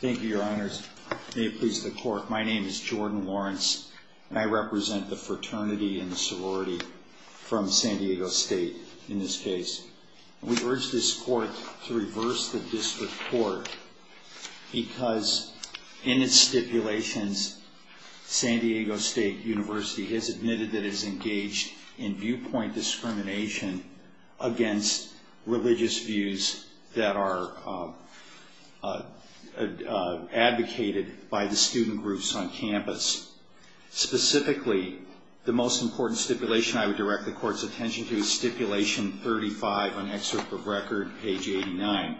Thank you, your honors. May it please the court, my name is Jordan Lawrence and I represent the fraternity and the sorority from San Diego State in this case. We urge this court to reverse the district court because in its stipulations, San Diego State University has admitted that it has engaged in viewpoint discrimination against religious views that are advocated by the student groups on campus. Specifically, the most important stipulation I would direct the court's attention to is page 89,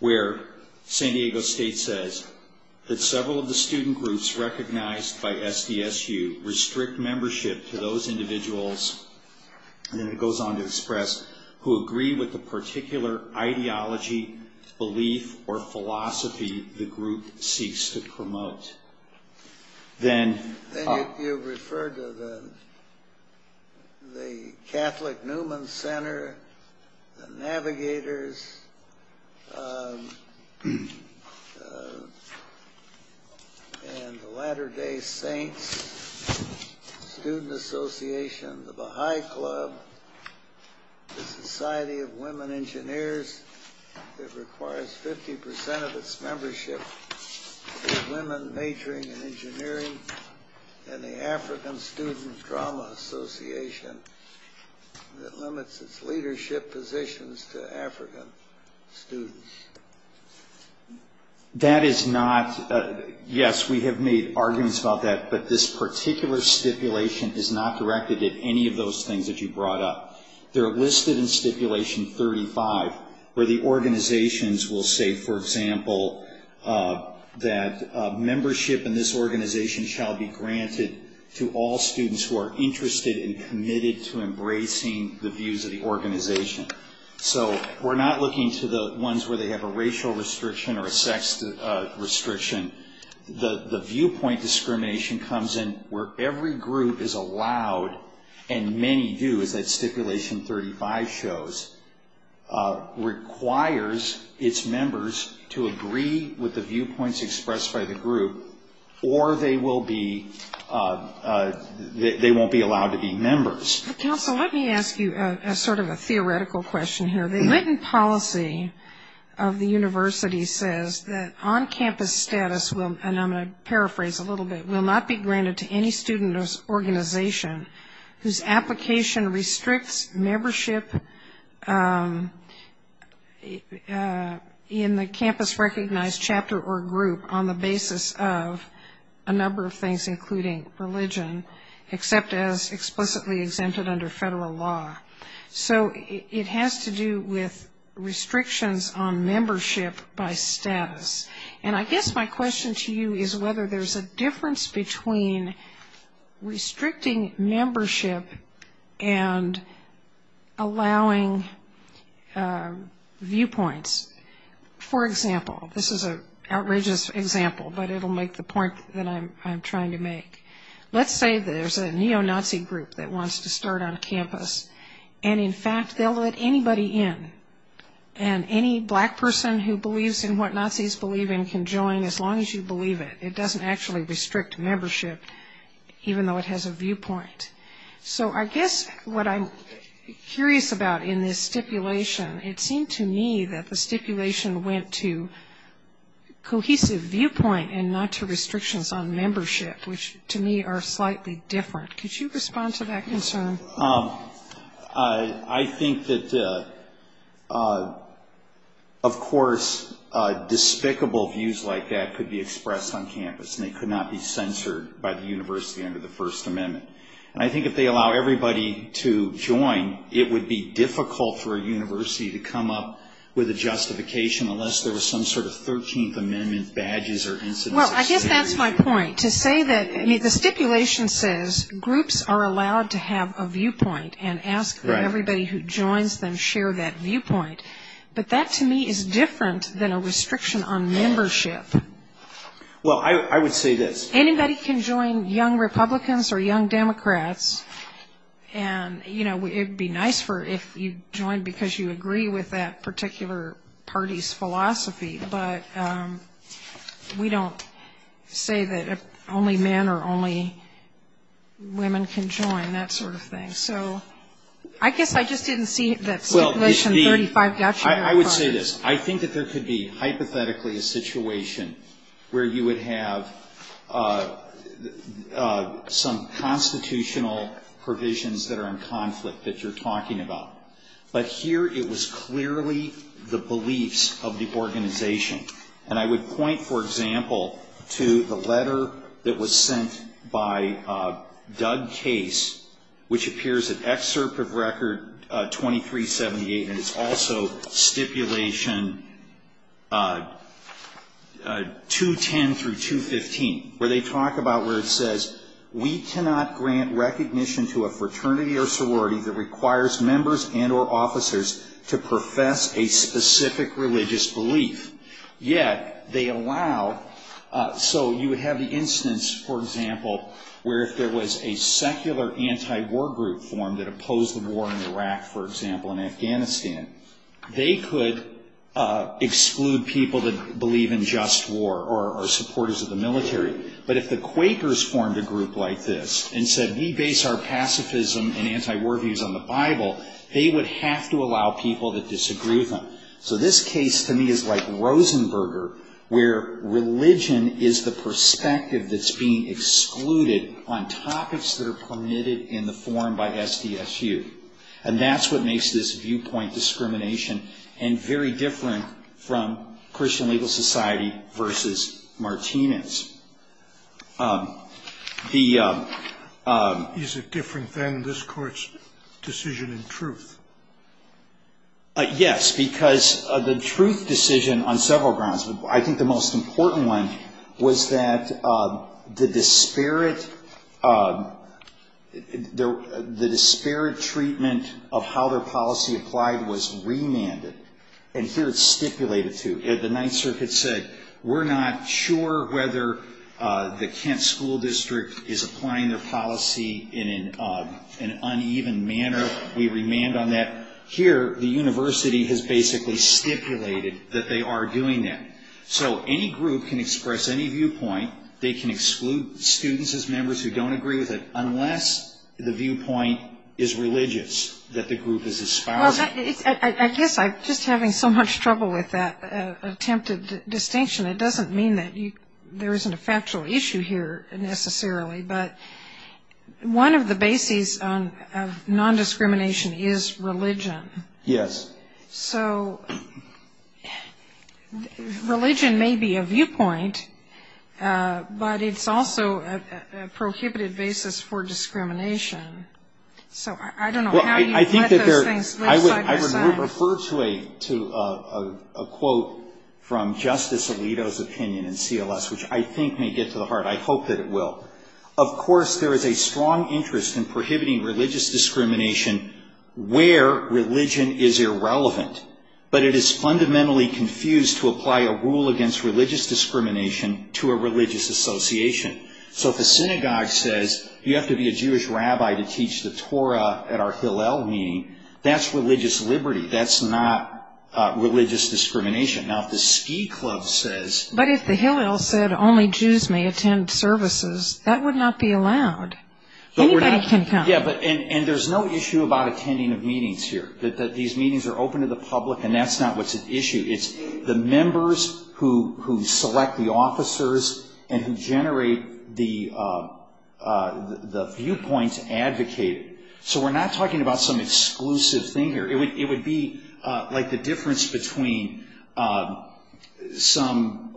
where San Diego State says that several of the student groups recognized by SDSU restrict membership to those individuals, and it goes on to express, who agree with the particular ideology, belief, or philosophy the group seeks to promote. Then you refer to the Catholic Newman Center, the Navigators, and the Latter Day Saints, Student Association, the Baha'i Club, the Society of Women Engineers, that requires 50% of its membership to women majoring in engineering, and the African Student Drama Association that limits its leadership positions to African students. Yes, we have made arguments about that, but this particular stipulation is not directed at any of those things that you brought up. They are listed in Stipulation 35, where the organizations will say, for example, that membership in this organization shall be granted to all students who are interested and committed to embracing the views of the organization. So we're not looking to the ones where they have a racial restriction or a sex restriction. The viewpoint discrimination comes in where every group is allowed, and many do, as that Stipulation 35 shows, requires its members to agree with the viewpoints expressed by the group, or they won't be allowed to be members. Counsel, let me ask you sort of a theoretical question here. The written policy of the university says that on-campus status, and I'm going to paraphrase a little bit, will not be granted to any student organization whose application restricts membership in the campus-recognized chapter or group on the basis of a number of things, including religion, except as explicitly exempted under federal law. So it has to do with restrictions on membership by status. And I guess my question to you is whether there's a difference between restricting membership and allowing viewpoints. For example, this is an outrageous example, but it'll make the point that I'm trying to make. Let's say there's a neo-Nazi group that wants to start on campus, and in fact they'll let anybody in. And any black person who believes in what Nazis believe in can join as long as you believe it. It doesn't actually restrict membership, even though it has a viewpoint. So I guess what I'm curious about in this stipulation, it seemed to me that the stipulation went to cohesive viewpoint and not to restrictions on membership, which to me are slightly different. Could you respond to that concern? I think that, of course, despicable views like that could be expressed on campus, and they could not be censored by the university under the First Amendment. And I think if they allow everybody to join, it would be difficult for a university to come up with a justification unless there was some sort of Thirteenth Amendment badges or instances. Well, I guess that's my point. The stipulation says groups are allowed to have a viewpoint and ask everybody who joins them to share that viewpoint. But that, to me, is different than a restriction on membership. Anybody can join young Republicans or young Democrats, and it would be nice if you joined because you agree with that particular party's philosophy. But we don't say that only men or only women can join, that sort of thing. I guess I just didn't see that Stipulation 35 got you. I would say this. I think that there could be, hypothetically, a situation where you would have some constitutional provisions that are in conflict that you're talking about. But here it was clearly the beliefs of the organization. And I would point, for example, to the letter that was sent by Doug Case, which appears in Excerpt of Record 2378, and it's also Stipulation 210 through 215, where they talk about where it says, We cannot grant recognition to a fraternity or sorority that requires members and or officers to profess a specific religious belief. Yet they allow. So you would have the instance, for example, where if there was a secular anti-war group formed that opposed the war in Iraq, for example, and Afghanistan, they could exclude people that believe in just war or are supporters of the military. But if the Quakers formed a group like this and said, We base our pacifism and anti-war views on the Bible, they would have to allow people that disagree with them. So this case to me is like Rosenberger, where religion is the perspective that's being excluded on topics that are permitted in the forum by SDSU. And that's what makes this viewpoint discrimination and very different from Christian Legal Society versus Martinez. I think the most important one was that the disparate treatment of how their policy applied was remanded. And here it's stipulated, too. The Ninth Circuit said, We're not sure whether or not we're going to be able to do that. Here, the Kent School District is applying their policy in an uneven manner. We remand on that. Here, the university has basically stipulated that they are doing that. So any group can express any viewpoint. They can exclude students as members who don't agree with it, unless the viewpoint is religious, that the group is a spouse. I guess I'm just having so much trouble with that attempted distinction. It doesn't mean that there isn't a factual issue here, necessarily. But one of the bases of nondiscrimination is religion. Yes. So religion may be a viewpoint, but it's also a prohibited basis for discrimination. So I don't know how you would let those things side by side. I would refer to a quote from Justice Alito's opinion in CLS, which I think may get to the heart. I hope that it will. Of course, there is a strong interest in prohibiting religious discrimination where religion is irrelevant. But it is fundamentally confused to apply a rule against religious discrimination to a religious association. So if the synagogue says you have to be a Jewish rabbi to teach the Torah at our Hillel meeting, that's religious liberty. That's not religious discrimination. Now, if the ski club says... But if the Hillel said only Jews may attend services, that would not be allowed. Anybody can come. And there's no issue about attending of meetings here. These meetings are open to the public, and that's not what's at issue. It's the members who select the officers and who generate the viewpoint to advocate. So we're not talking about some exclusive thing here. It would be like the difference between some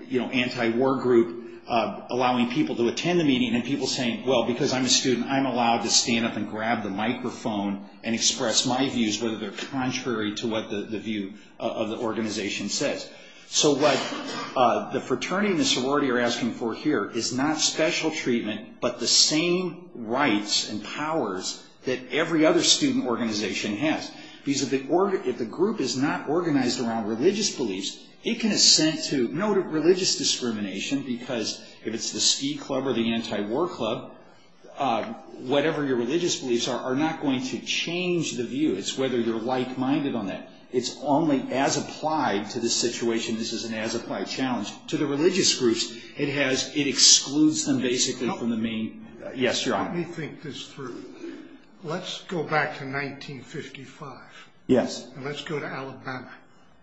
anti-war group allowing people to attend the meeting and people saying, well, because I'm a student, I'm allowed to stand up and grab the microphone and express my views, whether they're contrary to what the view of the organization says. So what the fraternity and the sorority are asking for here is not special treatment, but the same rights and powers that every other student organization has. Because if the group is not organized around religious beliefs, it can assent to no religious discrimination, because if it's the ski club or the anti-war club, whatever your religious beliefs are, are not going to change the view. It's whether you're like-minded on that. It's only as applied to this situation. This is an as-applied challenge to the religious groups. It excludes them basically from the main... Let me think this through. Let's go back to 1955. Let's go to Alabama.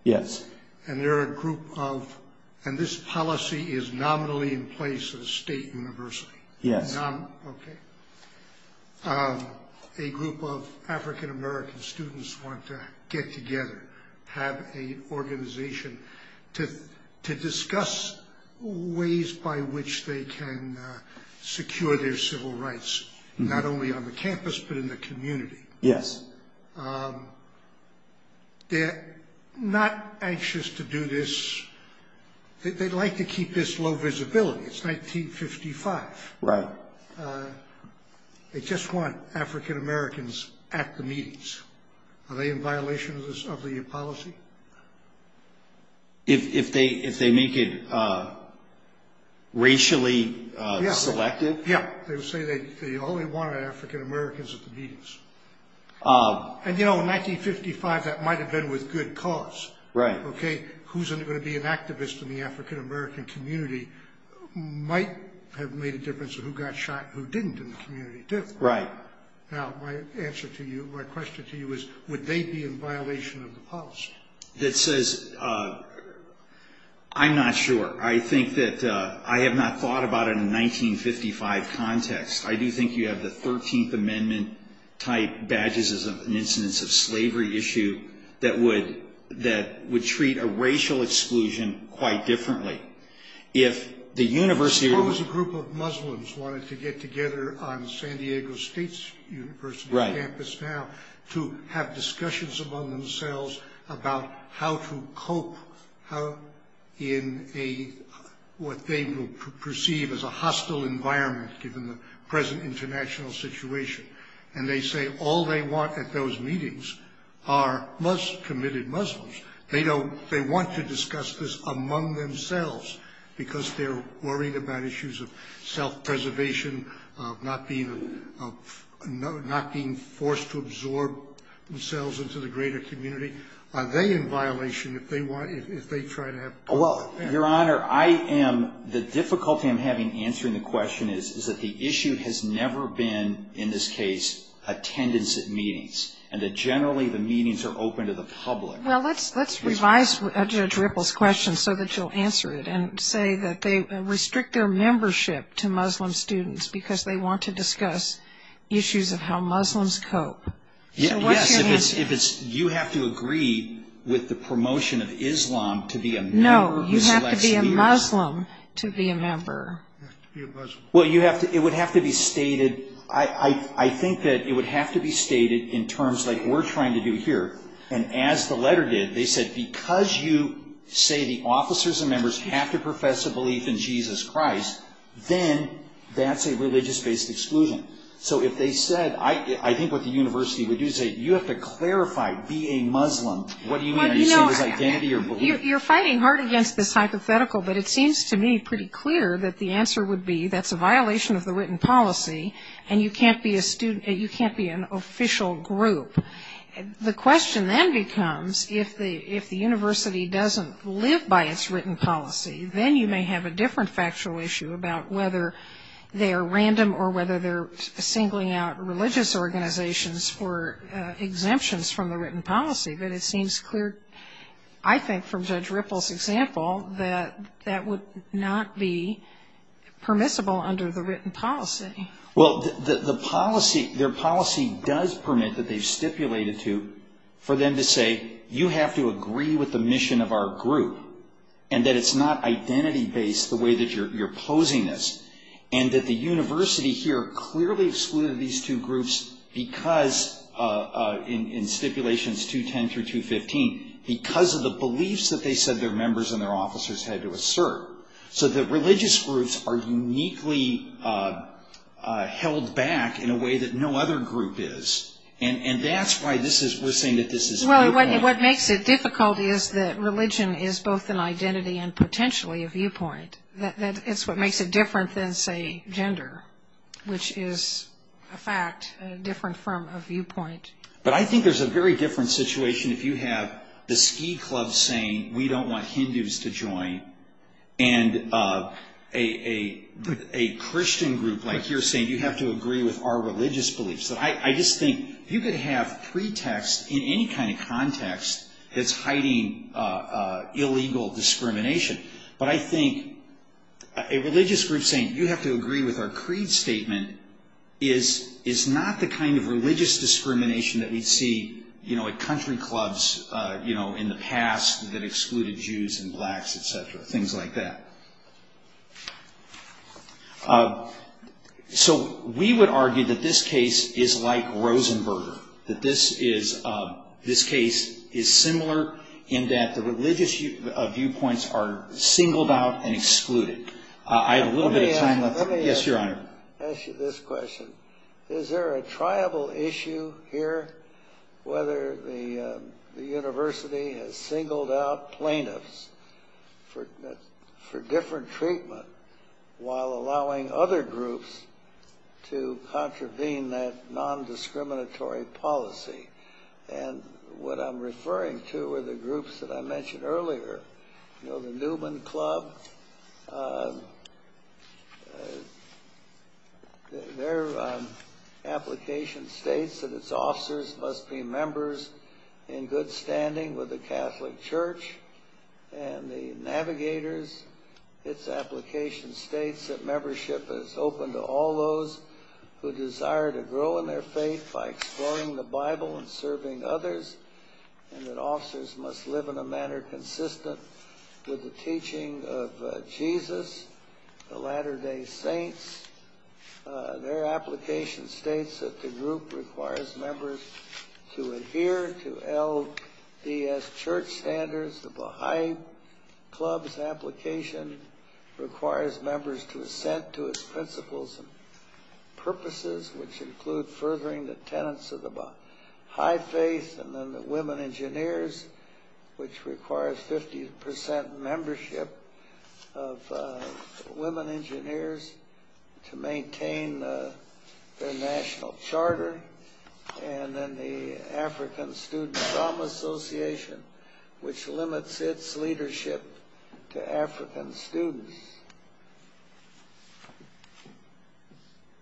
This policy is nominally in place at a state university. A group of African-American students want to get together, have an organization to discuss ways by which they can secure their civil rights. Not only on the campus, but in the community. They're not anxious to do this. They'd like to keep this low visibility. It's 1955. They just want African-Americans at the meetings. Are they in violation of the policy? If they make it racially selective? Yeah. They say they only want African-Americans at the meetings. In 1955, that might have been with good cause. Who's going to be an activist in the African-American community might have made a difference in who got shot and who didn't in the community. My question to you is would they be in violation of the policy? I'm not sure. I have not thought about it in a 1955 context. I do think you have the 13th Amendment type badges as an incidence of slavery issue that would treat a racial exclusion quite differently. Suppose a group of Muslims wanted to get together on San Diego State's university campus now to have discussions among themselves about how to cope in what they would perceive as a hostile environment given the present international situation. And they say all they want at those meetings are committed Muslims. They want to discuss this among themselves because they're worried about issues of self-preservation, of not being forced to absorb themselves into the greater community. Are they in violation if they try to have public affairs? Your Honor, the difficulty I'm having answering the question is that the issue has never been, in this case, attendance at meetings and that generally the meetings are open to the public. Well, let's revise Judge Ripple's question so that you'll answer it and say that they restrict their membership to Muslim students because they want to discuss issues of how Muslims cope. Yes, you have to agree with the promotion of Islam to be a member. No, you have to be a Muslim to be a member. You have to be a Muslim. Well, you have to, it would have to be stated, I think that it would have to be stated in terms like we're trying to do here and as the letter did, they said because you say the officers and members have to profess a belief in Jesus Christ, then that's a religious-based exclusion. So if they said, I think what the university would do is say you have to clarify, be a Muslim, what do you mean? Are you saying it's identity or belief? You're fighting hard against this hypothetical, but it seems to me pretty clear that the answer would be that's a violation of the written policy and you can't be a student, you can't be an official group. The question then becomes if the university doesn't live by its written policy, then you may have a different factual issue about whether they are random or whether they're singling out religious organizations for exemptions from the written policy. But it seems clear, I think, from Judge Ripple's example that that would not be permissible under the written policy. Well, their policy does permit that they've stipulated to, for them to say you have to agree with the mission of our group and that it's not identity-based the way that you're posing this. And that the university here clearly excluded these two groups because, in stipulations 210 through 215, because of the beliefs that they said their members and their officers had to assert. So the religious groups are uniquely held back in a way that no other group is. And that's why we're saying that this is viewpoint. Well, what makes it difficult is that religion is both an identity and potentially a viewpoint. It's what makes it different than, say, gender, which is a fact different from a viewpoint. But I think there's a very different situation if you have the ski club saying we don't want Hindus to join and a Christian group like you're saying you have to agree with our religious beliefs. I just think you could have pretext in any kind of context that's hiding illegal discrimination. But I think a religious group saying you have to agree with our creed statement is not the kind of religious discrimination that we'd see at country clubs in the past that excluded Jews and blacks, etc., things like that. So we would argue that this case is like Rosenberger, that this case is similar in that the religious viewpoints are singled out and excluded. Let me ask you this question. Is there a tribal issue here, whether the university has singled out plaintiffs for different treatment while allowing other groups to contravene that non-discriminatory policy? And what I'm referring to are the groups that I mentioned earlier, the Newman Club. Their application states that its officers must be members in good standing with the Catholic Church and the Navigators. Its application states that membership is open to all those who desire to grow in their faith by exploring the Bible and serving others, and that officers must live in a manner consistent with the teaching of Jesus, the Latter-day Saints. Their application states that the group requires members to adhere to LDS church standards. The Baha'i Club's application requires members to assent to its principles and purposes, which include furthering the tenets of the high faith and the women engineers, which requires 50 percent membership of women engineers. It requires members to maintain their national charter, and then the African Student Drama Association, which limits its leadership to African students.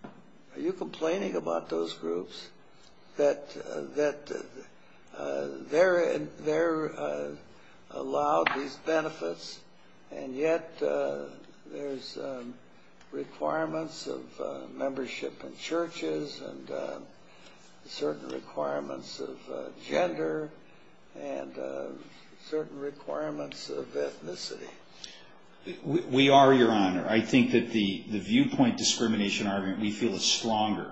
Are you complaining about those groups that they're allowed these benefits, and yet there's requirements of membership in churches and certain requirements of gender and certain requirements of ethnicity? We are, Your Honor. I think that the viewpoint discrimination argument we feel is stronger.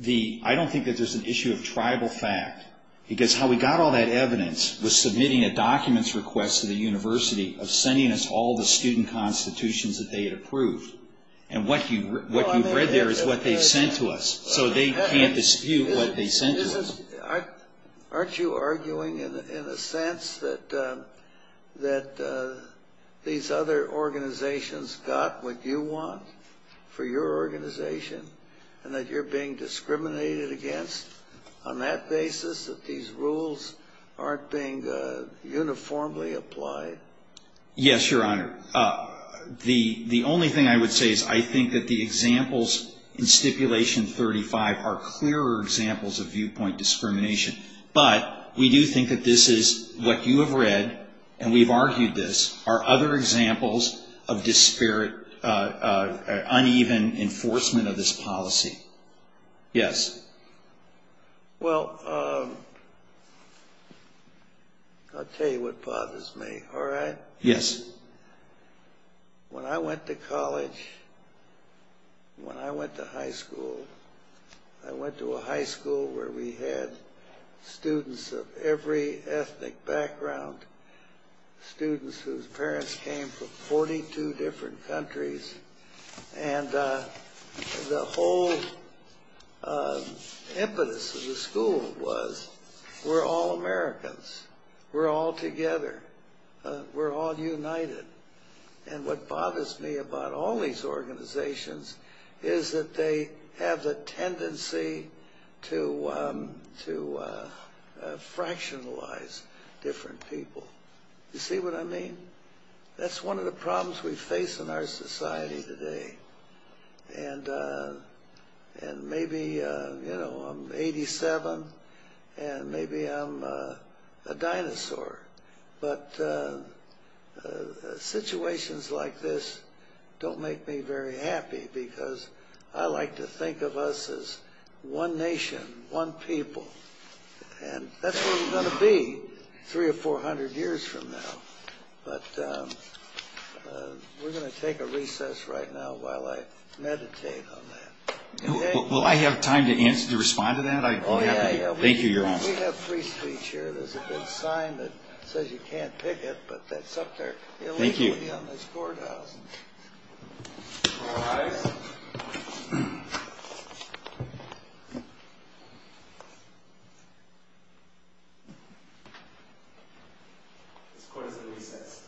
I don't think that there's an issue of tribal fact, because how we got all that evidence was submitting a documents request to the university of sending us all the student constitutions that they had approved, and what you've read there is what they've sent to us, so they can't dispute what they sent to us. Aren't you arguing in a sense that these other organizations got what you want for your organization, and that you're being discriminated against on that basis, that these rules aren't being uniformly applied? Yes, Your Honor. The only thing I would say is I think that the examples in Stipulation 35 are clearer examples of viewpoint discrimination, but we do think that this is what you have read, and we've argued this, are other examples of uneven enforcement of this policy. Yes. Well, I'll tell you what bothers me, all right? Yes. The impetus of the school was, we're all Americans, we're all together, we're all united, and what bothers me about all these organizations is that they have the tendency to fractionalize different people. You see what I mean? That's one of the problems we face in our society today, and maybe, you know, I'm 87, and maybe I'm a dinosaur, but situations like this don't make me very happy, because I like to think of us as one nation, one people, and that's what we're going to be three or four hundred years from now. But we're going to take a recess right now while I meditate on that. Well, I have time to answer, to respond to that. Yeah, yeah. Thank you, Your Honor. We have free speech here. There's a big sign that says you can't pick it, but that's up there. Thank you. It'll be on this courthouse. All rise. This court is in recess.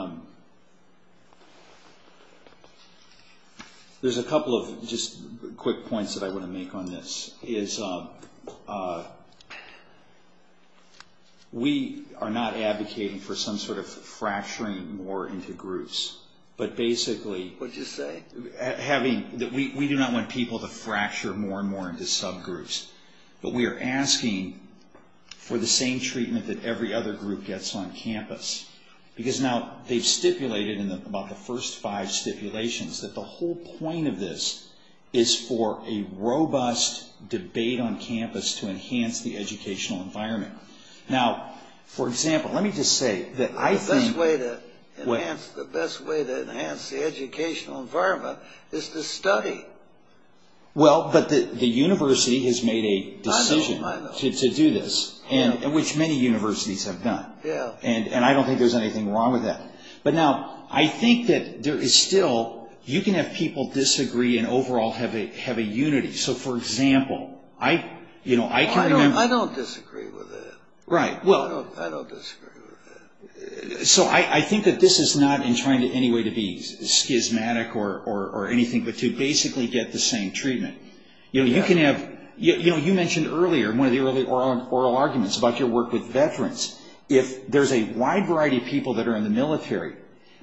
Thank you. Thank you. Thank you. Thank you. Thank you. Thank you. Thank you. Thank you. Thank you. Thank you. All rise. All rise. Okay. There's a couple of just quick points that I want to make on this. We are not advocating for some sort of fracturing more into groups, but basically- What did you say? We do not want people to fracture more and more into subgroups. But we are asking for the same treatment that every other group gets on campus. Because now they've stipulated in about the first five stipulations that the whole point of this is for a robust debate on campus to enhance the educational environment. Now, for example, let me just say that I think- Well, but the university has made a decision to do this, which many universities have done. And I don't think there's anything wrong with that. But now, I think that there is still- You can have people disagree and overall have a unity. So, for example, I can remember- I don't disagree with that. Right. I don't disagree with that. So, I think that this is not in trying in any way to be schismatic or anything, but to basically get the same treatment. You mentioned earlier, one of the early oral arguments about your work with veterans. If there's a wide variety of people that are in the military,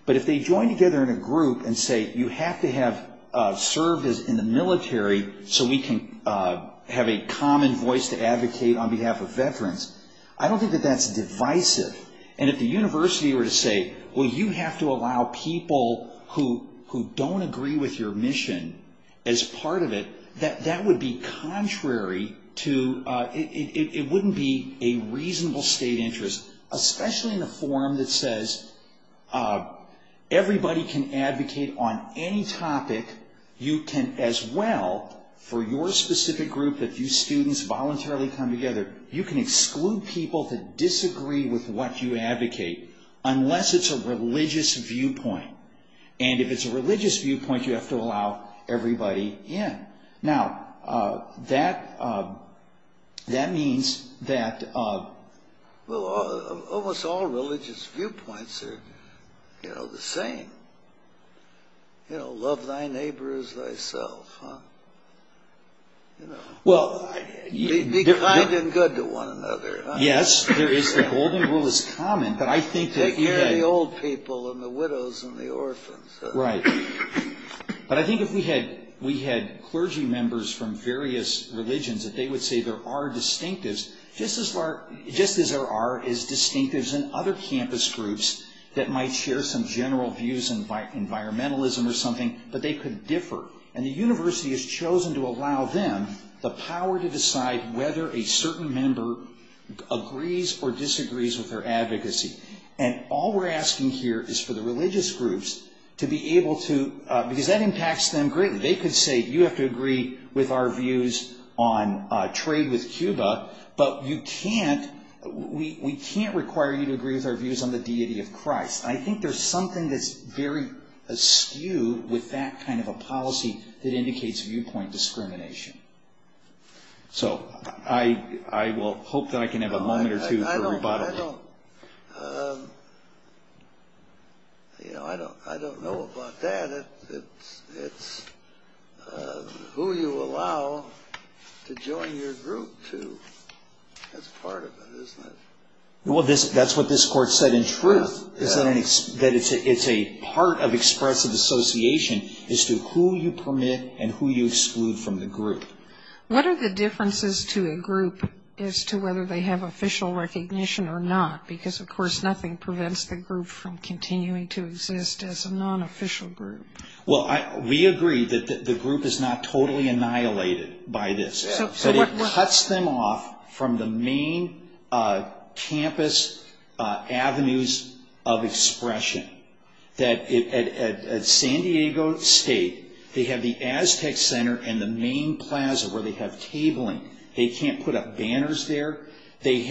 but if they join together in a group and say, you have to have served in the military so we can have a common voice to advocate on behalf of veterans, I don't think that that's divisive. And if the university were to say, well, you have to allow people who don't agree with your mission as part of it, that would be contrary to- It wouldn't be a reasonable state interest, especially in a forum that says everybody can advocate on any topic. You can, as well, for your specific group, if you students voluntarily come together, you can exclude people who disagree with what you advocate, unless it's a religious viewpoint. And if it's a religious viewpoint, you have to allow everybody in. Now, that means that- Well, almost all religious viewpoints are the same. Love thy neighbor as thyself. Be kind and good to one another. Yes, the golden rule is common. Take care of the old people and the widows and the orphans. Right. But I think if we had clergy members from various religions, that they would say there are distinctives, just as there are as distinctives in other campus groups that might share some general views on environmentalism or something, but they could differ. And the university has chosen to allow them the power to decide whether a certain member agrees or disagrees with their advocacy. And all we're asking here is for the religious groups to be able to- Because that impacts them greatly. They could say, you have to agree with our views on trade with Cuba, but we can't require you to agree with our views on the deity of Christ. I think there's something that's very askew with that kind of a policy that indicates viewpoint discrimination. So I will hope that I can have a moment or two for rebuttal. I don't know about that. It's who you allow to join your group to. That's part of it, isn't it? Well, that's what this court said in truth, that it's a part of expressive association as to who you permit and who you exclude from the group. What are the differences to a group as to whether they have official recognition or not? Because, of course, nothing prevents the group from continuing to exist as a non-official group. Well, we agree that the group is not totally annihilated by this. It cuts them off from the main campus avenues of expression. At San Diego State, they have the Aztec Center and the main plaza where they have tabling. They can't put up banners there. They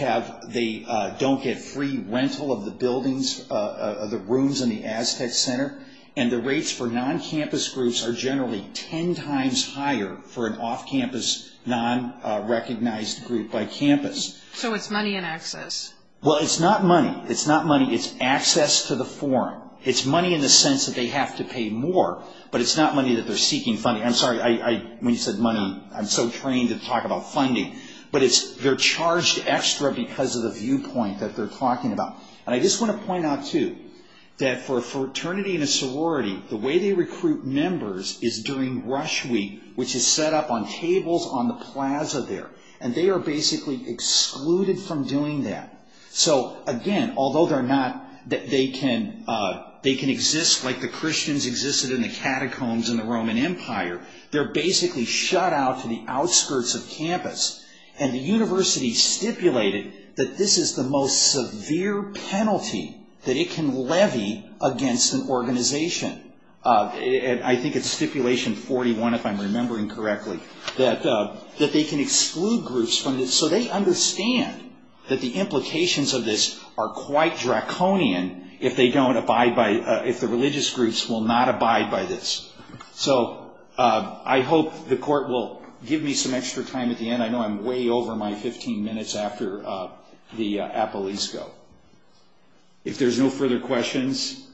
don't get free rental of the rooms in the Aztec Center. And the rates for non-campus groups are generally ten times higher for an off-campus, non-recognized group by campus. So it's money and access. Well, it's not money. It's not money. It's access to the forum. It's money in the sense that they have to pay more, but it's not money that they're seeking funding. I'm sorry. When you said money, I'm so trained to talk about funding. But they're charged extra because of the viewpoint that they're talking about. And I just want to point out, too, that for a fraternity and a sorority, the way they recruit members is during rush week, which is set up on tables on the plaza there. And they are basically excluded from doing that. So, again, although they can exist like the Christians existed in the catacombs in the Roman Empire, they're basically shut out to the outskirts of campus. And the university stipulated that this is the most severe penalty that it can levy against an organization. I think it's stipulation 41, if I'm remembering correctly, that they can exclude groups from this. So they understand that the implications of this are quite draconian if they don't abide by it, if the religious groups will not abide by this. So I hope the court will give me some extra time at the end. I know I'm way over my 15 minutes after the appellees go. If there's no further questions,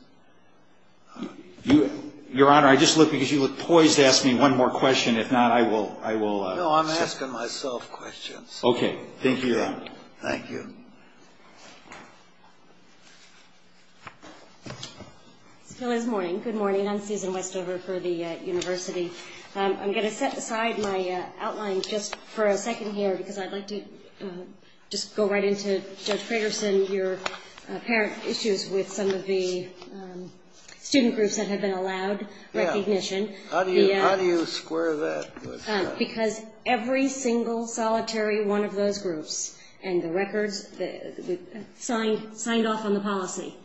Your Honor, I just look because you look poised to ask me one more question. If not, I will. No, I'm asking myself questions. Okay. Thank you, Your Honor. Thank you. It still is morning. Good morning. I'm Susan Westover for the university. I'm going to set aside my outline just for a second here because I'd like to just go right into Judge Fragerson, your apparent issues with some of the student groups that have been allowed recognition. How do you square that? Because every single solitary one of those groups and the records signed off on the policy,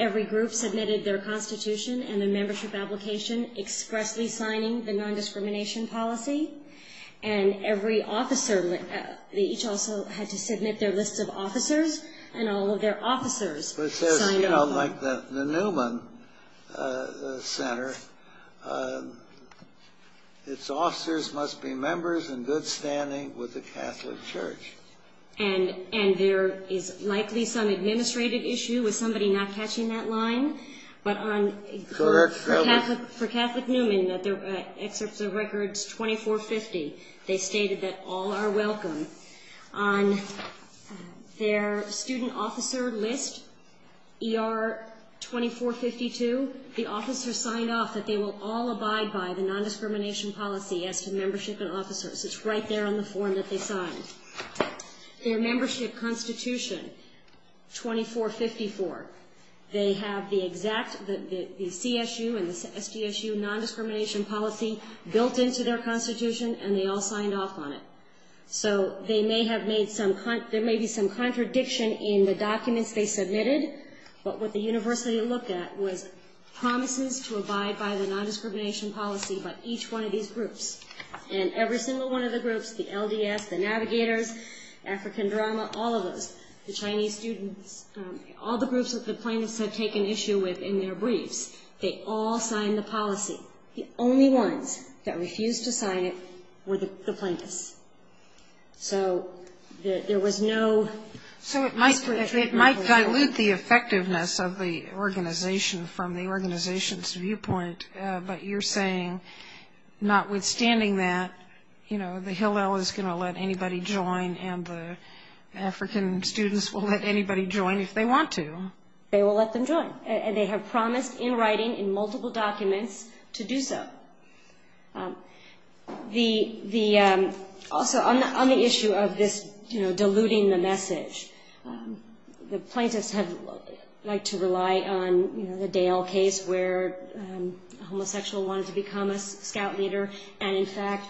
every group submitted their constitution and their membership application expressly signing the nondiscrimination policy, and every officer, they each also had to submit their list of officers, and all of their officers signed off on it. It says, you know, like the Newman Center, its officers must be members in good standing with the Catholic Church. And there is likely some administrative issue with somebody not catching that line, but for Catholic Newman, the excerpts of records 2450, they stated that all are welcome. On their student officer list, ER 2452, the officers signed off that they will all abide by the nondiscrimination policy as to membership and officers. It's right there on the form that they signed. Their membership constitution, 2454, they have the exact, the CSU and the SDSU nondiscrimination policy built into their constitution, and they all signed off on it. So they may have made some, there may be some contradiction in the documents they submitted, but what the university looked at was promises to abide by the nondiscrimination policy, but each one of these groups, and every single one of the groups, the LDS, the Navigators, African Drama, all of those, the Chinese students, all the groups that the plaintiffs had taken issue with in their briefs, they all signed the policy. The only ones that refused to sign it were the plaintiffs. So there was no... So it might dilute the effectiveness of the organization from the organization's viewpoint, but you're saying notwithstanding that, you know, the Hillel is going to let anybody join and the African students will let anybody join if they want to. They will let them join, and they have promised in writing in multiple documents to do so. The, also on the issue of this, you know, diluting the message, the plaintiffs have liked to rely on, you know, the Dale case where a homosexual wanted to become a scout leader, and in fact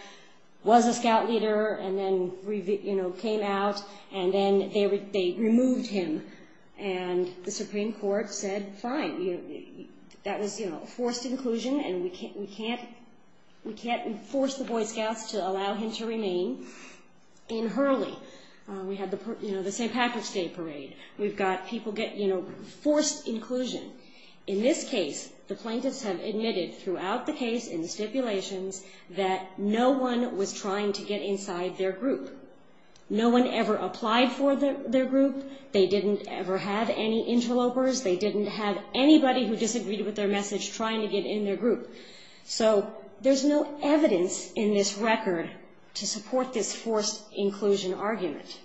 was a scout leader, and then, you know, came out, and then they removed him. And the Supreme Court said, fine, that was, you know, forced inclusion, and we can't enforce the Boy Scouts to allow him to remain in Hurley. We had the, you know, the St. Patrick's Day parade. We've got people get, you know, forced inclusion. In this case, the plaintiffs have admitted throughout the case in the stipulations that no one was trying to get inside their group. No one ever applied for their group. They didn't ever have any interlopers. They didn't have anybody who disagreed with their message trying to get in their group. So there's no evidence in this record to support this forced inclusion argument.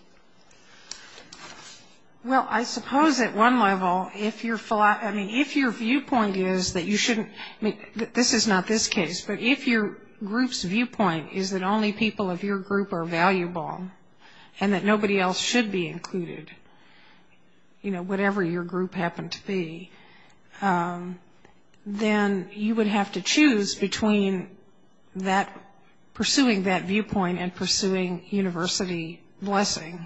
Well, I suppose at one level, if you're, I mean, if your viewpoint is that you shouldn't, I mean, this is not this case, but if your group's viewpoint is that only people of your group are valuable, and that nobody else should be included, you know, whatever your group happened to be, then you would have to choose between pursuing that viewpoint and pursuing university blessing.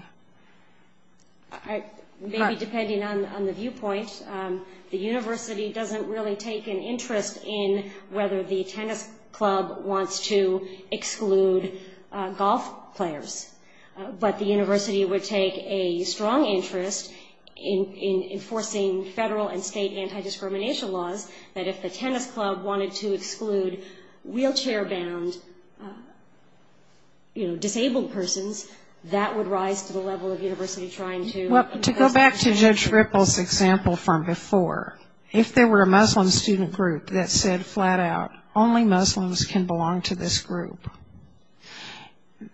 Maybe depending on the viewpoint. The university doesn't really take an interest in whether the tennis club wants to exclude golf players, but the university would take a strong interest in enforcing federal and state anti-discrimination laws, that if the tennis club wanted to exclude wheelchair-bound, you know, disabled persons, that would rise to the level of university trying to... Well, to go back to Judge Ripple's example from before, if there were a Muslim student group that said flat out, only Muslims can belong to this group,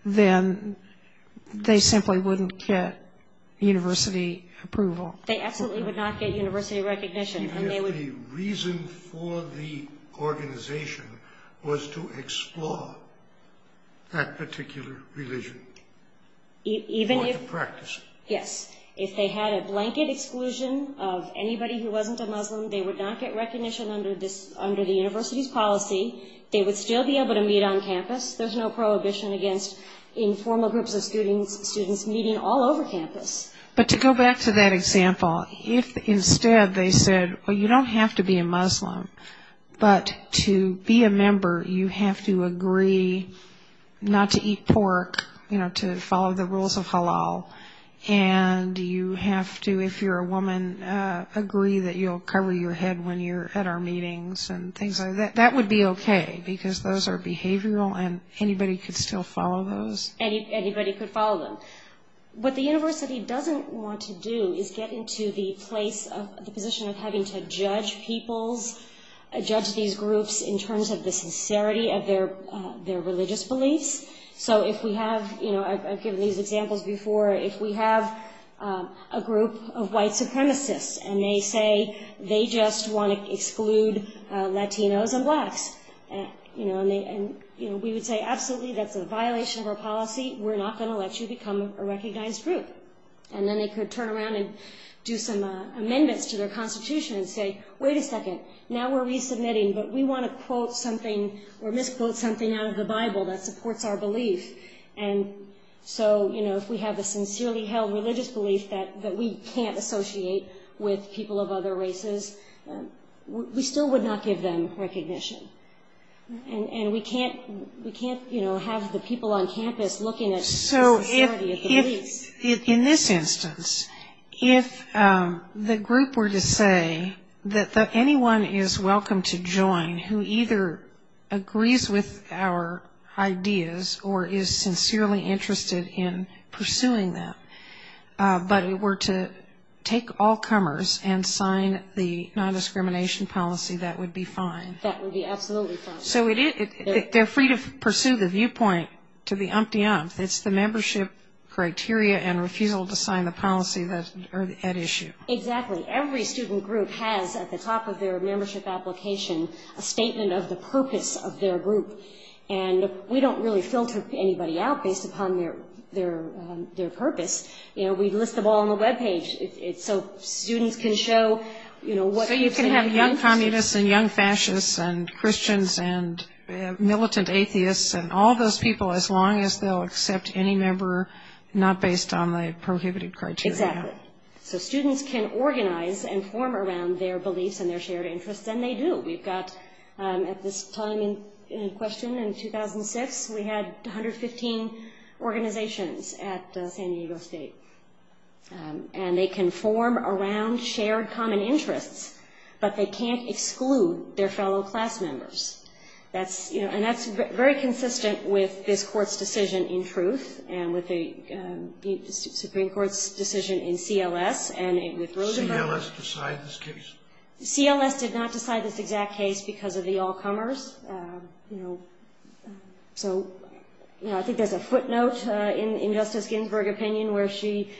then they simply wouldn't get university approval. They absolutely would not get university recognition. Even if the reason for the organization was to explore that particular religion or to practice it. Yes. If they had a blanket exclusion of anybody who wasn't a Muslim, they would not get recognition under the university's policy. They would still be able to meet on campus. There's no prohibition against informal groups of students meeting all over campus. But to go back to that example, if instead they said, well, you don't have to be a Muslim, but to be a member you have to agree not to eat pork, you know, to follow the rules of halal, and you have to, if you're a woman, agree that you'll cover your head when you're at our meetings and things like that, that would be okay because those are behavioral and anybody could still follow those. Anybody could follow them. What the university doesn't want to do is get into the position of having to judge people's, judge these groups in terms of the sincerity of their religious beliefs. So if we have, you know, I've given these examples before, if we have a group of white supremacists and they say they just want to exclude Latinos and Blacks, you know, we would say, absolutely, that's a violation of our policy. We're not going to let you become a recognized group. And then they could turn around and do some amendments to their constitution and say, wait a second, now we're resubmitting, but we want to quote something or misquote something out of the Bible that supports our belief. And so, you know, if we have a sincerely held religious belief that we can't associate with people of other races, we still would not give them recognition. And we can't, you know, have the people on campus looking at the police. So if, in this instance, if the group were to say that anyone is welcome to join who either agrees with our ideas or is sincerely interested in pursuing them, but were to take all comers and sign the non-discrimination policy, that would be fine. That would be absolutely fine. So they're free to pursue the viewpoint to the umpty ump. It's the membership criteria and refusal to sign the policy that are at issue. Exactly. Every student group has, at the top of their membership application, a statement of the purpose of their group. And we don't really filter anybody out based upon their purpose. You know, we list them all on the web page. So students can show, you know, what they're interested in. So you can have young communists and young fascists and Christians and militant atheists and all those people as long as they'll accept any member not based on the prohibited criteria. Exactly. So students can organize and form around their beliefs and their shared interests. And they do. We've got at this time in question, in 2006, we had 115 organizations at San Diego State. And they can form around shared common interests, but they can't exclude their fellow class members. And that's very consistent with this court's decision in truth and with the Supreme Court's decision in CLS and with Rosenberg. CLS decided this case? CLS did not decide this exact case because of the all comers. You know, so I think there's a footnote in Justice Ginsburg's opinion where she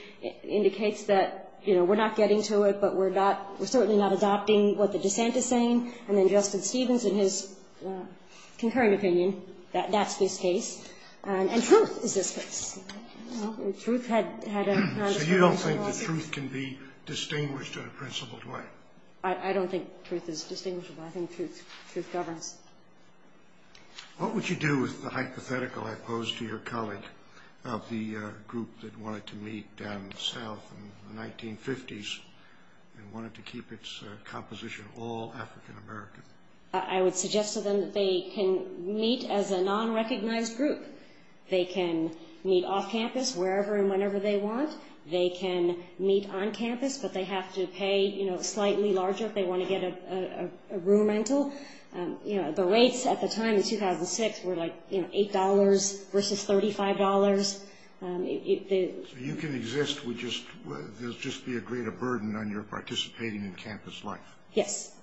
indicates that, you know, we're not getting to it, but we're certainly not adopting what the dissent is saying. And then Justice Stevens in his concurring opinion, that that's this case. Truth had a non-disclosure clause. So you don't think the truth can be distinguished in a principled way? I don't think truth is distinguishable. I think truth governs. What would you do with the hypothetical I posed to your colleague of the group that wanted to meet down in the South in the 1950s and wanted to keep its composition all African American? I would suggest to them that they can meet as a non-recognized group. They can meet off campus, wherever and whenever they want. They can meet on campus, but they have to pay, you know, slightly larger if they want to get a room rental. You know, the rates at the time in 2006 were like, you know, $8 versus $35. So you can exist with just, there'll just be a greater burden on your participating in campus life? Yes.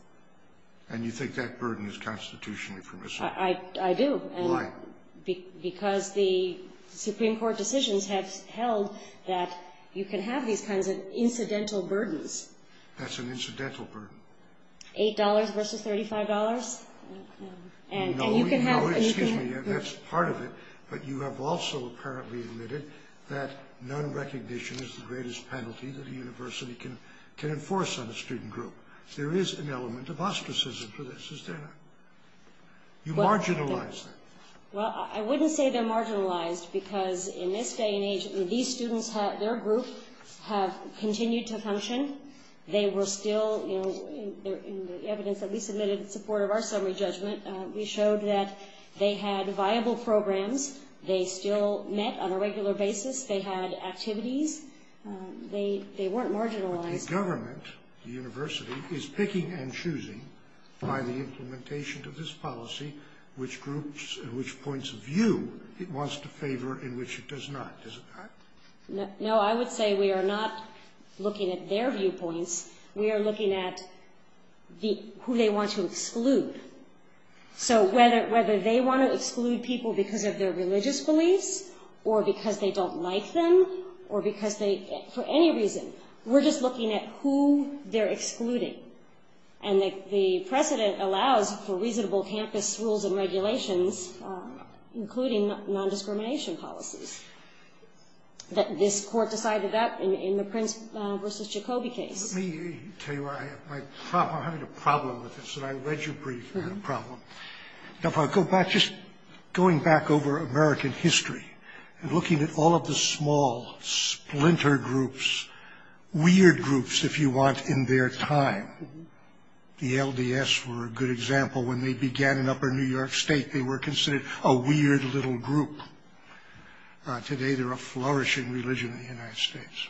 And you think that burden is constitutionally permissible? I do. Why? Because the Supreme Court decisions have held that you can have these kinds of incidental burdens. That's an incidental burden. $8 versus $35? No, excuse me, that's part of it, but you have also apparently admitted that non-recognition is the greatest penalty that a university can enforce on a student group. There is an element of ostracism for this, is there not? You marginalize them. Well, I wouldn't say they're marginalized because in this day and age, these students, their group have continued to function. They were still, you know, in the evidence that we submitted in support of our summary judgment, we showed that they had viable programs. They still met on a regular basis. They had activities. They weren't marginalized. The government, the university, is picking and choosing by the implementation of this policy which groups and which points of view it wants to favor and which it does not, is it not? No, I would say we are not looking at their viewpoints. We are looking at who they want to exclude. So whether they want to exclude people because of their religious beliefs or because they don't like them or because they, for any reason, we're just looking at who they're excluding. And the precedent allows for reasonable campus rules and regulations, including non-discrimination policies. This court decided that in the Prince v. Jacoby case. Let me tell you, I have a problem with this, and I read your brief, and I have a problem. If I go back, just going back over American history and looking at all of the small splinter groups, weird groups, if you want, in their time, the LDS were a good example. When they began in upper New York State, they were considered a weird little group. Today they're a flourishing religion in the United States.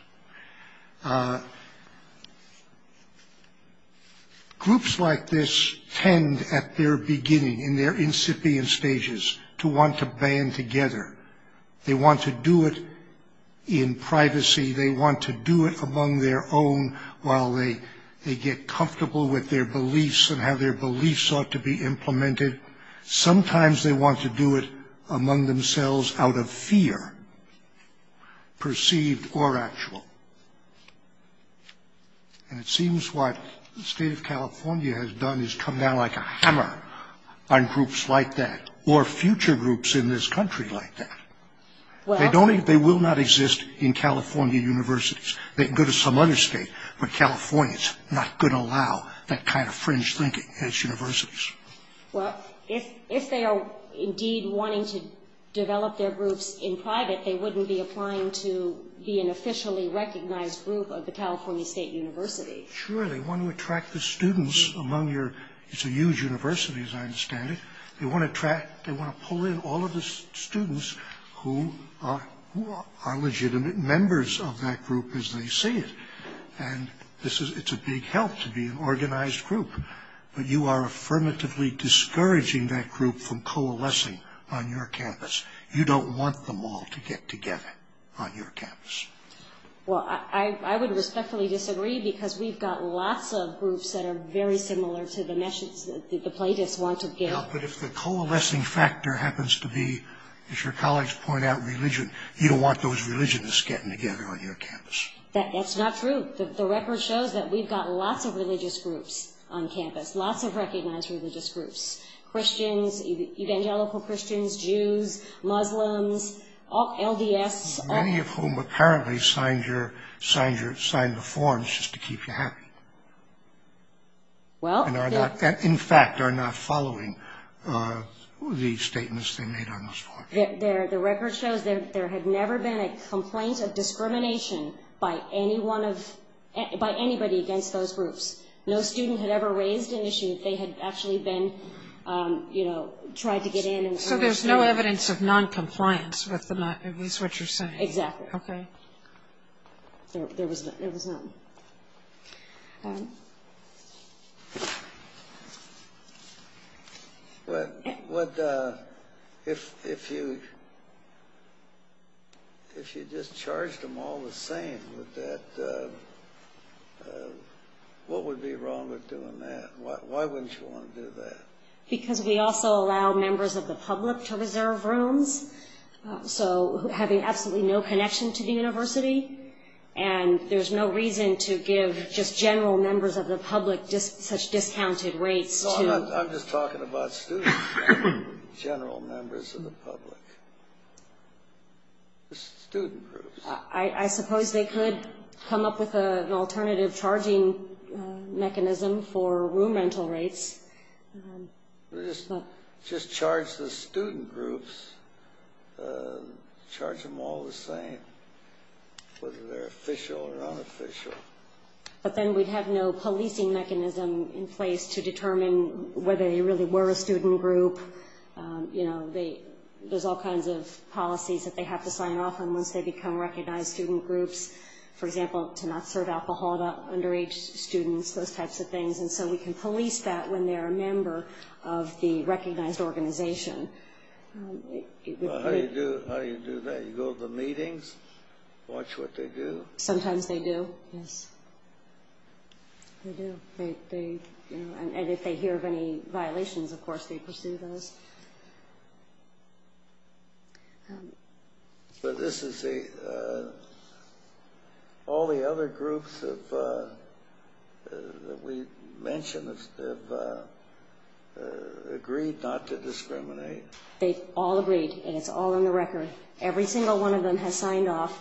Groups like this tend at their beginning, in their incipient stages, to want to band together. They want to do it in privacy. They want to do it among their own while they get comfortable with their beliefs and how their beliefs ought to be implemented. Sometimes they want to do it among themselves out of fear, perceived or actual. And it seems what the state of California has done is come down like a hammer on groups like that or future groups in this country like that. They will not exist in California universities. They can go to some other state, but California is not going to allow that kind of fringe thinking in its universities. Well, if they are indeed wanting to develop their groups in private, they wouldn't be applying to be an officially recognized group of the California State University. Sure, they want to attract the students among your... It's a huge university as I understand it. They want to attract... They want to pull in all of the students who are legitimate members of that group as they see it. And this is... It's a big help to be an organized group. But you are affirmatively discouraging that group from coalescing on your campus. You don't want them all to get together on your campus. Well, I would respectfully disagree because we've got lots of groups that are very similar to the message that the plaintiffs want to give. But if the coalescing factor happens to be, as your colleagues point out, religion, you don't want those religionists getting together on your campus. That's not true. The record shows that we've got lots of religious groups on campus, lots of recognized religious groups, Christians, evangelical Christians, Jews, Muslims, LDS. Many of whom apparently signed the forms just to keep you happy. And in fact are not following the statements they made on those forms. The record shows there had never been a complaint of discrimination by anybody against those groups. No student had ever raised an issue if they had actually been, you know, tried to get in. So there's no evidence of noncompliance with what you're saying. Exactly. Okay. There was none. But if you just charged them all the same with that, what would be wrong with doing that? Why wouldn't you want to do that? Because we also allow members of the public to reserve rooms. So having absolutely no connection to the university. And there's no reason to give just general members of the public such discounted rates. I'm just talking about students. General members of the public. Student groups. I suppose they could come up with an alternative charging mechanism for room rental rates. Just charge the student groups. Charge them all the same whether they're official or unofficial. But then we'd have no policing mechanism in place to determine whether they really were a student group. You know, there's all kinds of policies that they have to sign off on once they become recognized student groups. For example, to not serve alcohol to underage students, those types of things. And so we can police that when they're a member of the recognized organization. How do you do that? You go to the meetings, watch what they do? Sometimes they do, yes. They do. And if they hear of any violations, of course, they pursue those. But this is all the other groups that we mentioned have agreed not to discriminate. They've all agreed, and it's all in the record. Every single one of them has signed off.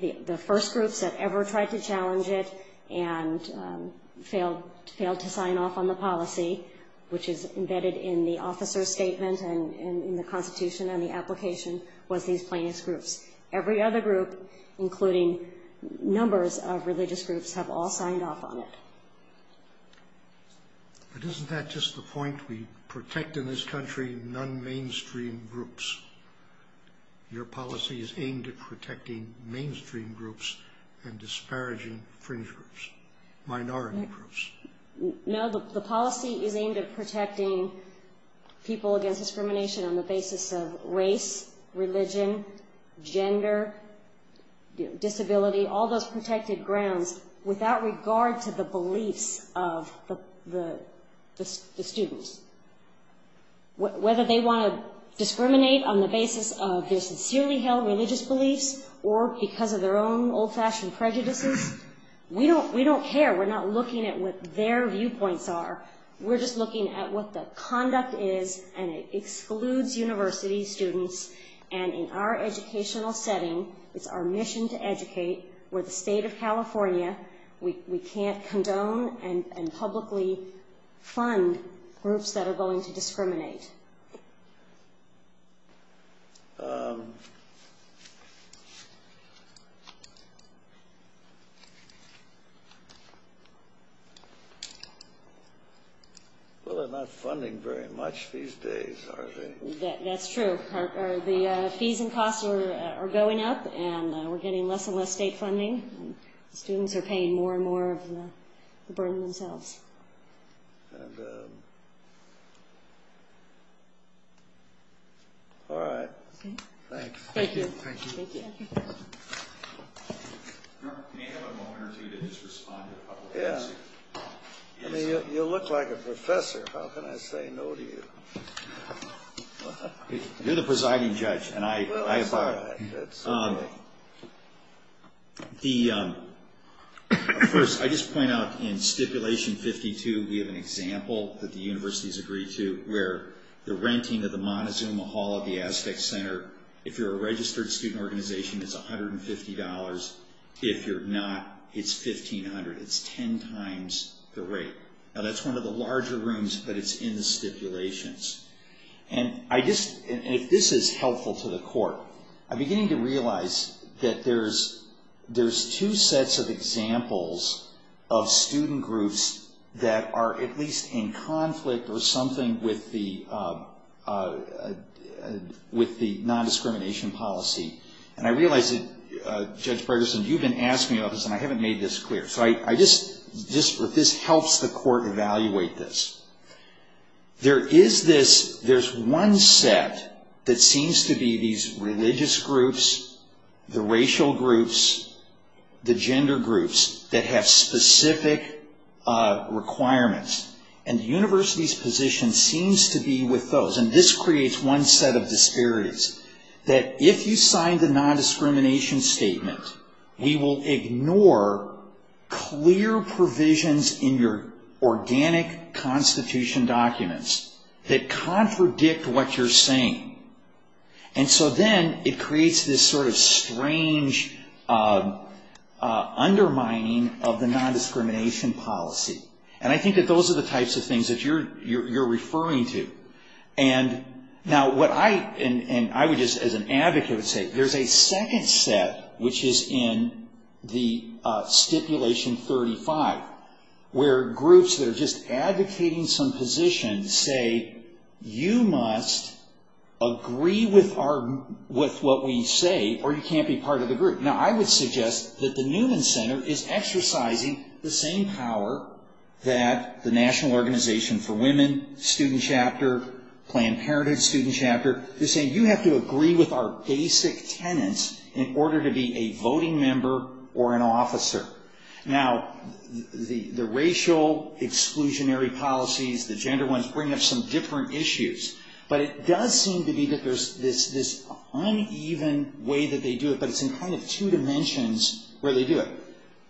The first groups that ever tried to challenge it and failed to sign off on the policy, which is embedded in the officer's statement and in the Constitution and the application, was these plaintiffs' groups. Every other group, including numbers of religious groups, have all signed off on it. But isn't that just the point? We protect in this country non-mainstream groups. Your policy is aimed at protecting mainstream groups and disparaging fringe groups, minority groups. No, the policy is aimed at protecting people against discrimination on the basis of race, religion, gender, disability, all those protected grounds, without regard to the beliefs of the students. Whether they want to discriminate on the basis of their sincerely held religious beliefs or because of their own old-fashioned prejudices, we don't care. We're not looking at what their viewpoints are. We're just looking at what the conduct is, and it excludes university students. And in our educational setting, it's our mission to educate. We're the state of California. We can't condone and publicly fund groups that are going to discriminate. Well, they're not funding very much these days, are they? That's true. The fees and costs are going up, and we're getting less and less state funding. Students are paying more and more of the burden themselves. All right. Thanks. Thank you. Thank you. You look like a professor. How can I say no to you? You're the presiding judge, and I abide. First, I just point out in Stipulation 52, we have an example that the universities agree to where the renting of the Montezuma Hall of the Aztec Center, if you're a registered student organization, is $150. If you're not, it's $1,500. It's ten times the rate. Now, that's one of the larger rooms, but it's in the stipulations. And if this is helpful to the court, I'm beginning to realize that there's two sets of examples of student groups that are at least in conflict or something with the nondiscrimination policy. And I realize that, Judge Ferguson, you've been asking about this, and I haven't made this clear. But this helps the court evaluate this. There's one set that seems to be these religious groups, the racial groups, the gender groups, that have specific requirements. And the university's position seems to be with those. And this creates one set of disparities, that if you sign the nondiscrimination statement, we will ignore clear provisions in your organic constitution documents that contradict what you're saying. And so then it creates this sort of strange undermining of the nondiscrimination policy. And I think that those are the types of things that you're referring to. Now, what I would just, as an advocate, would say, there's a second set, which is in the Stipulation 35, where groups that are just advocating some position say, you must agree with what we say or you can't be part of the group. Now, I would suggest that the Newman Center is exercising the same power that the National Organization for Women, student chapter, Planned Parenthood student chapter. They're saying, you have to agree with our basic tenets in order to be a voting member or an officer. Now, the racial exclusionary policies, the gender ones, bring up some different issues. But it does seem to me that there's this uneven way that they do it, but it's in kind of two dimensions where they do it.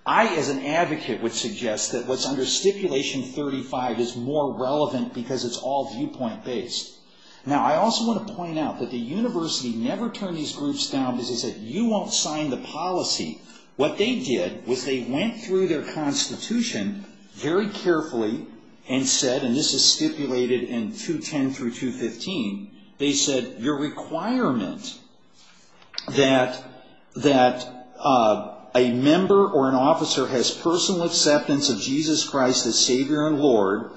I, as an advocate, would suggest that what's under Stipulation 35 is more relevant because it's all viewpoint-based. Now, I also want to point out that the university never turned these groups down because they said, you won't sign the policy. What they did was they went through their constitution very carefully and said, and this is stipulated in 210 through 215, they said, your requirement that a member or an officer has personal acceptance of Jesus Christ as Savior and Lord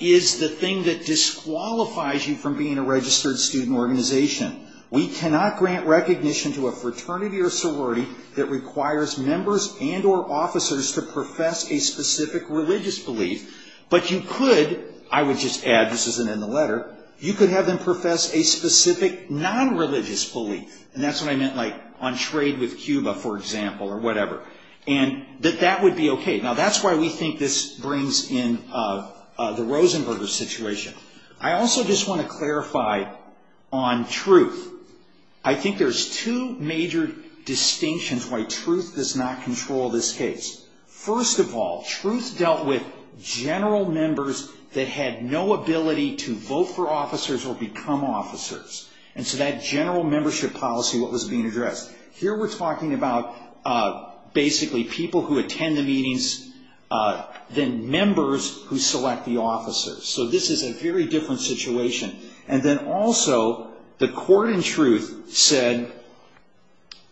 is the thing that disqualifies you from being a registered student organization. We cannot grant recognition to a fraternity or sorority that requires members and or officers to profess a specific religious belief. But you could, I would just add, this isn't in the letter, you could have them profess a specific non-religious belief. And that's what I meant, like, on trade with Cuba, for example, or whatever. And that that would be okay. Now, that's why we think this brings in the Rosenberger situation. I also just want to clarify on truth. I think there's two major distinctions why truth does not control this case. First of all, truth dealt with general members that had no ability to vote for officers or become officers. And so that general membership policy was being addressed. Here we're talking about basically people who attend the meetings, then members who select the officers. So this is a very different situation. And then also, the court in truth said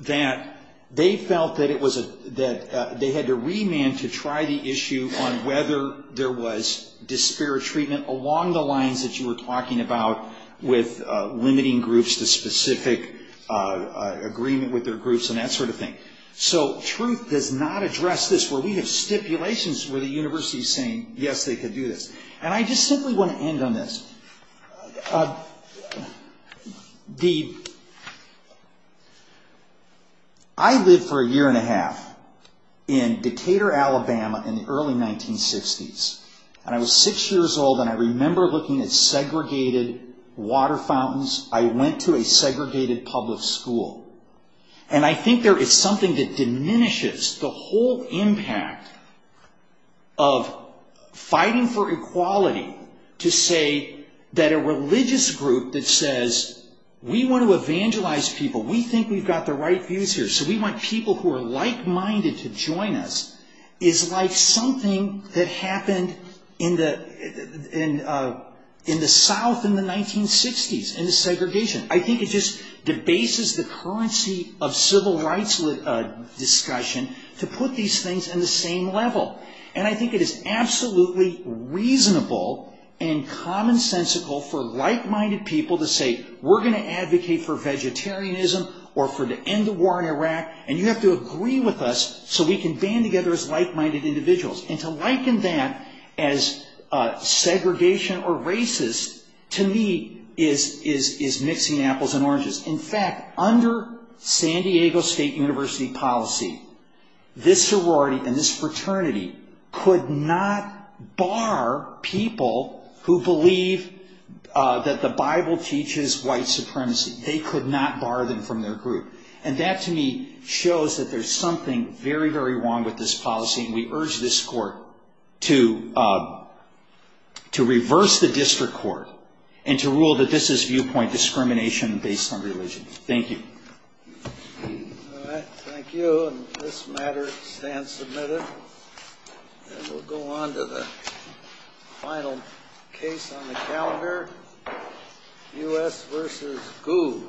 that they felt that they had to remand to try the issue on whether there was disparate treatment along the lines that you were talking about with limiting groups to specific agreement with their groups and that sort of thing. So truth does not address this where we have stipulations where the university is saying, yes, they could do this. And I just simply want to end on this. I lived for a year and a half in Decatur, Alabama in the early 1960s. And I was six years old, and I remember looking at segregated water fountains. I went to a segregated public school. And I think there is something that diminishes the whole impact of fighting for equality to say that a religious group that says, we want to evangelize people, we think we've got the right views here, so we want people who are like-minded to join us, is like something that happened in the South in the 1960s, in the segregation. I think it just debases the currency of civil rights discussion to put these things in the same level. And I think it is absolutely reasonable and commonsensical for like-minded people to say, we're going to advocate for vegetarianism or for the end of war in Iraq, and you have to agree with us so we can band together as like-minded individuals. And to liken that as segregation or racist, to me, is mixing apples and oranges. In fact, under San Diego State University policy, this sorority and this fraternity could not bar people who believe that the Bible teaches white supremacy. They could not bar them from their group. And that, to me, shows that there's something very, very wrong with this policy. And we urge this court to reverse the district court and to rule that this is viewpoint discrimination based on religion. Thank you. All right. Thank you. And this matter stands submitted. And we'll go on to the final case on the calendar, U.S. versus GU.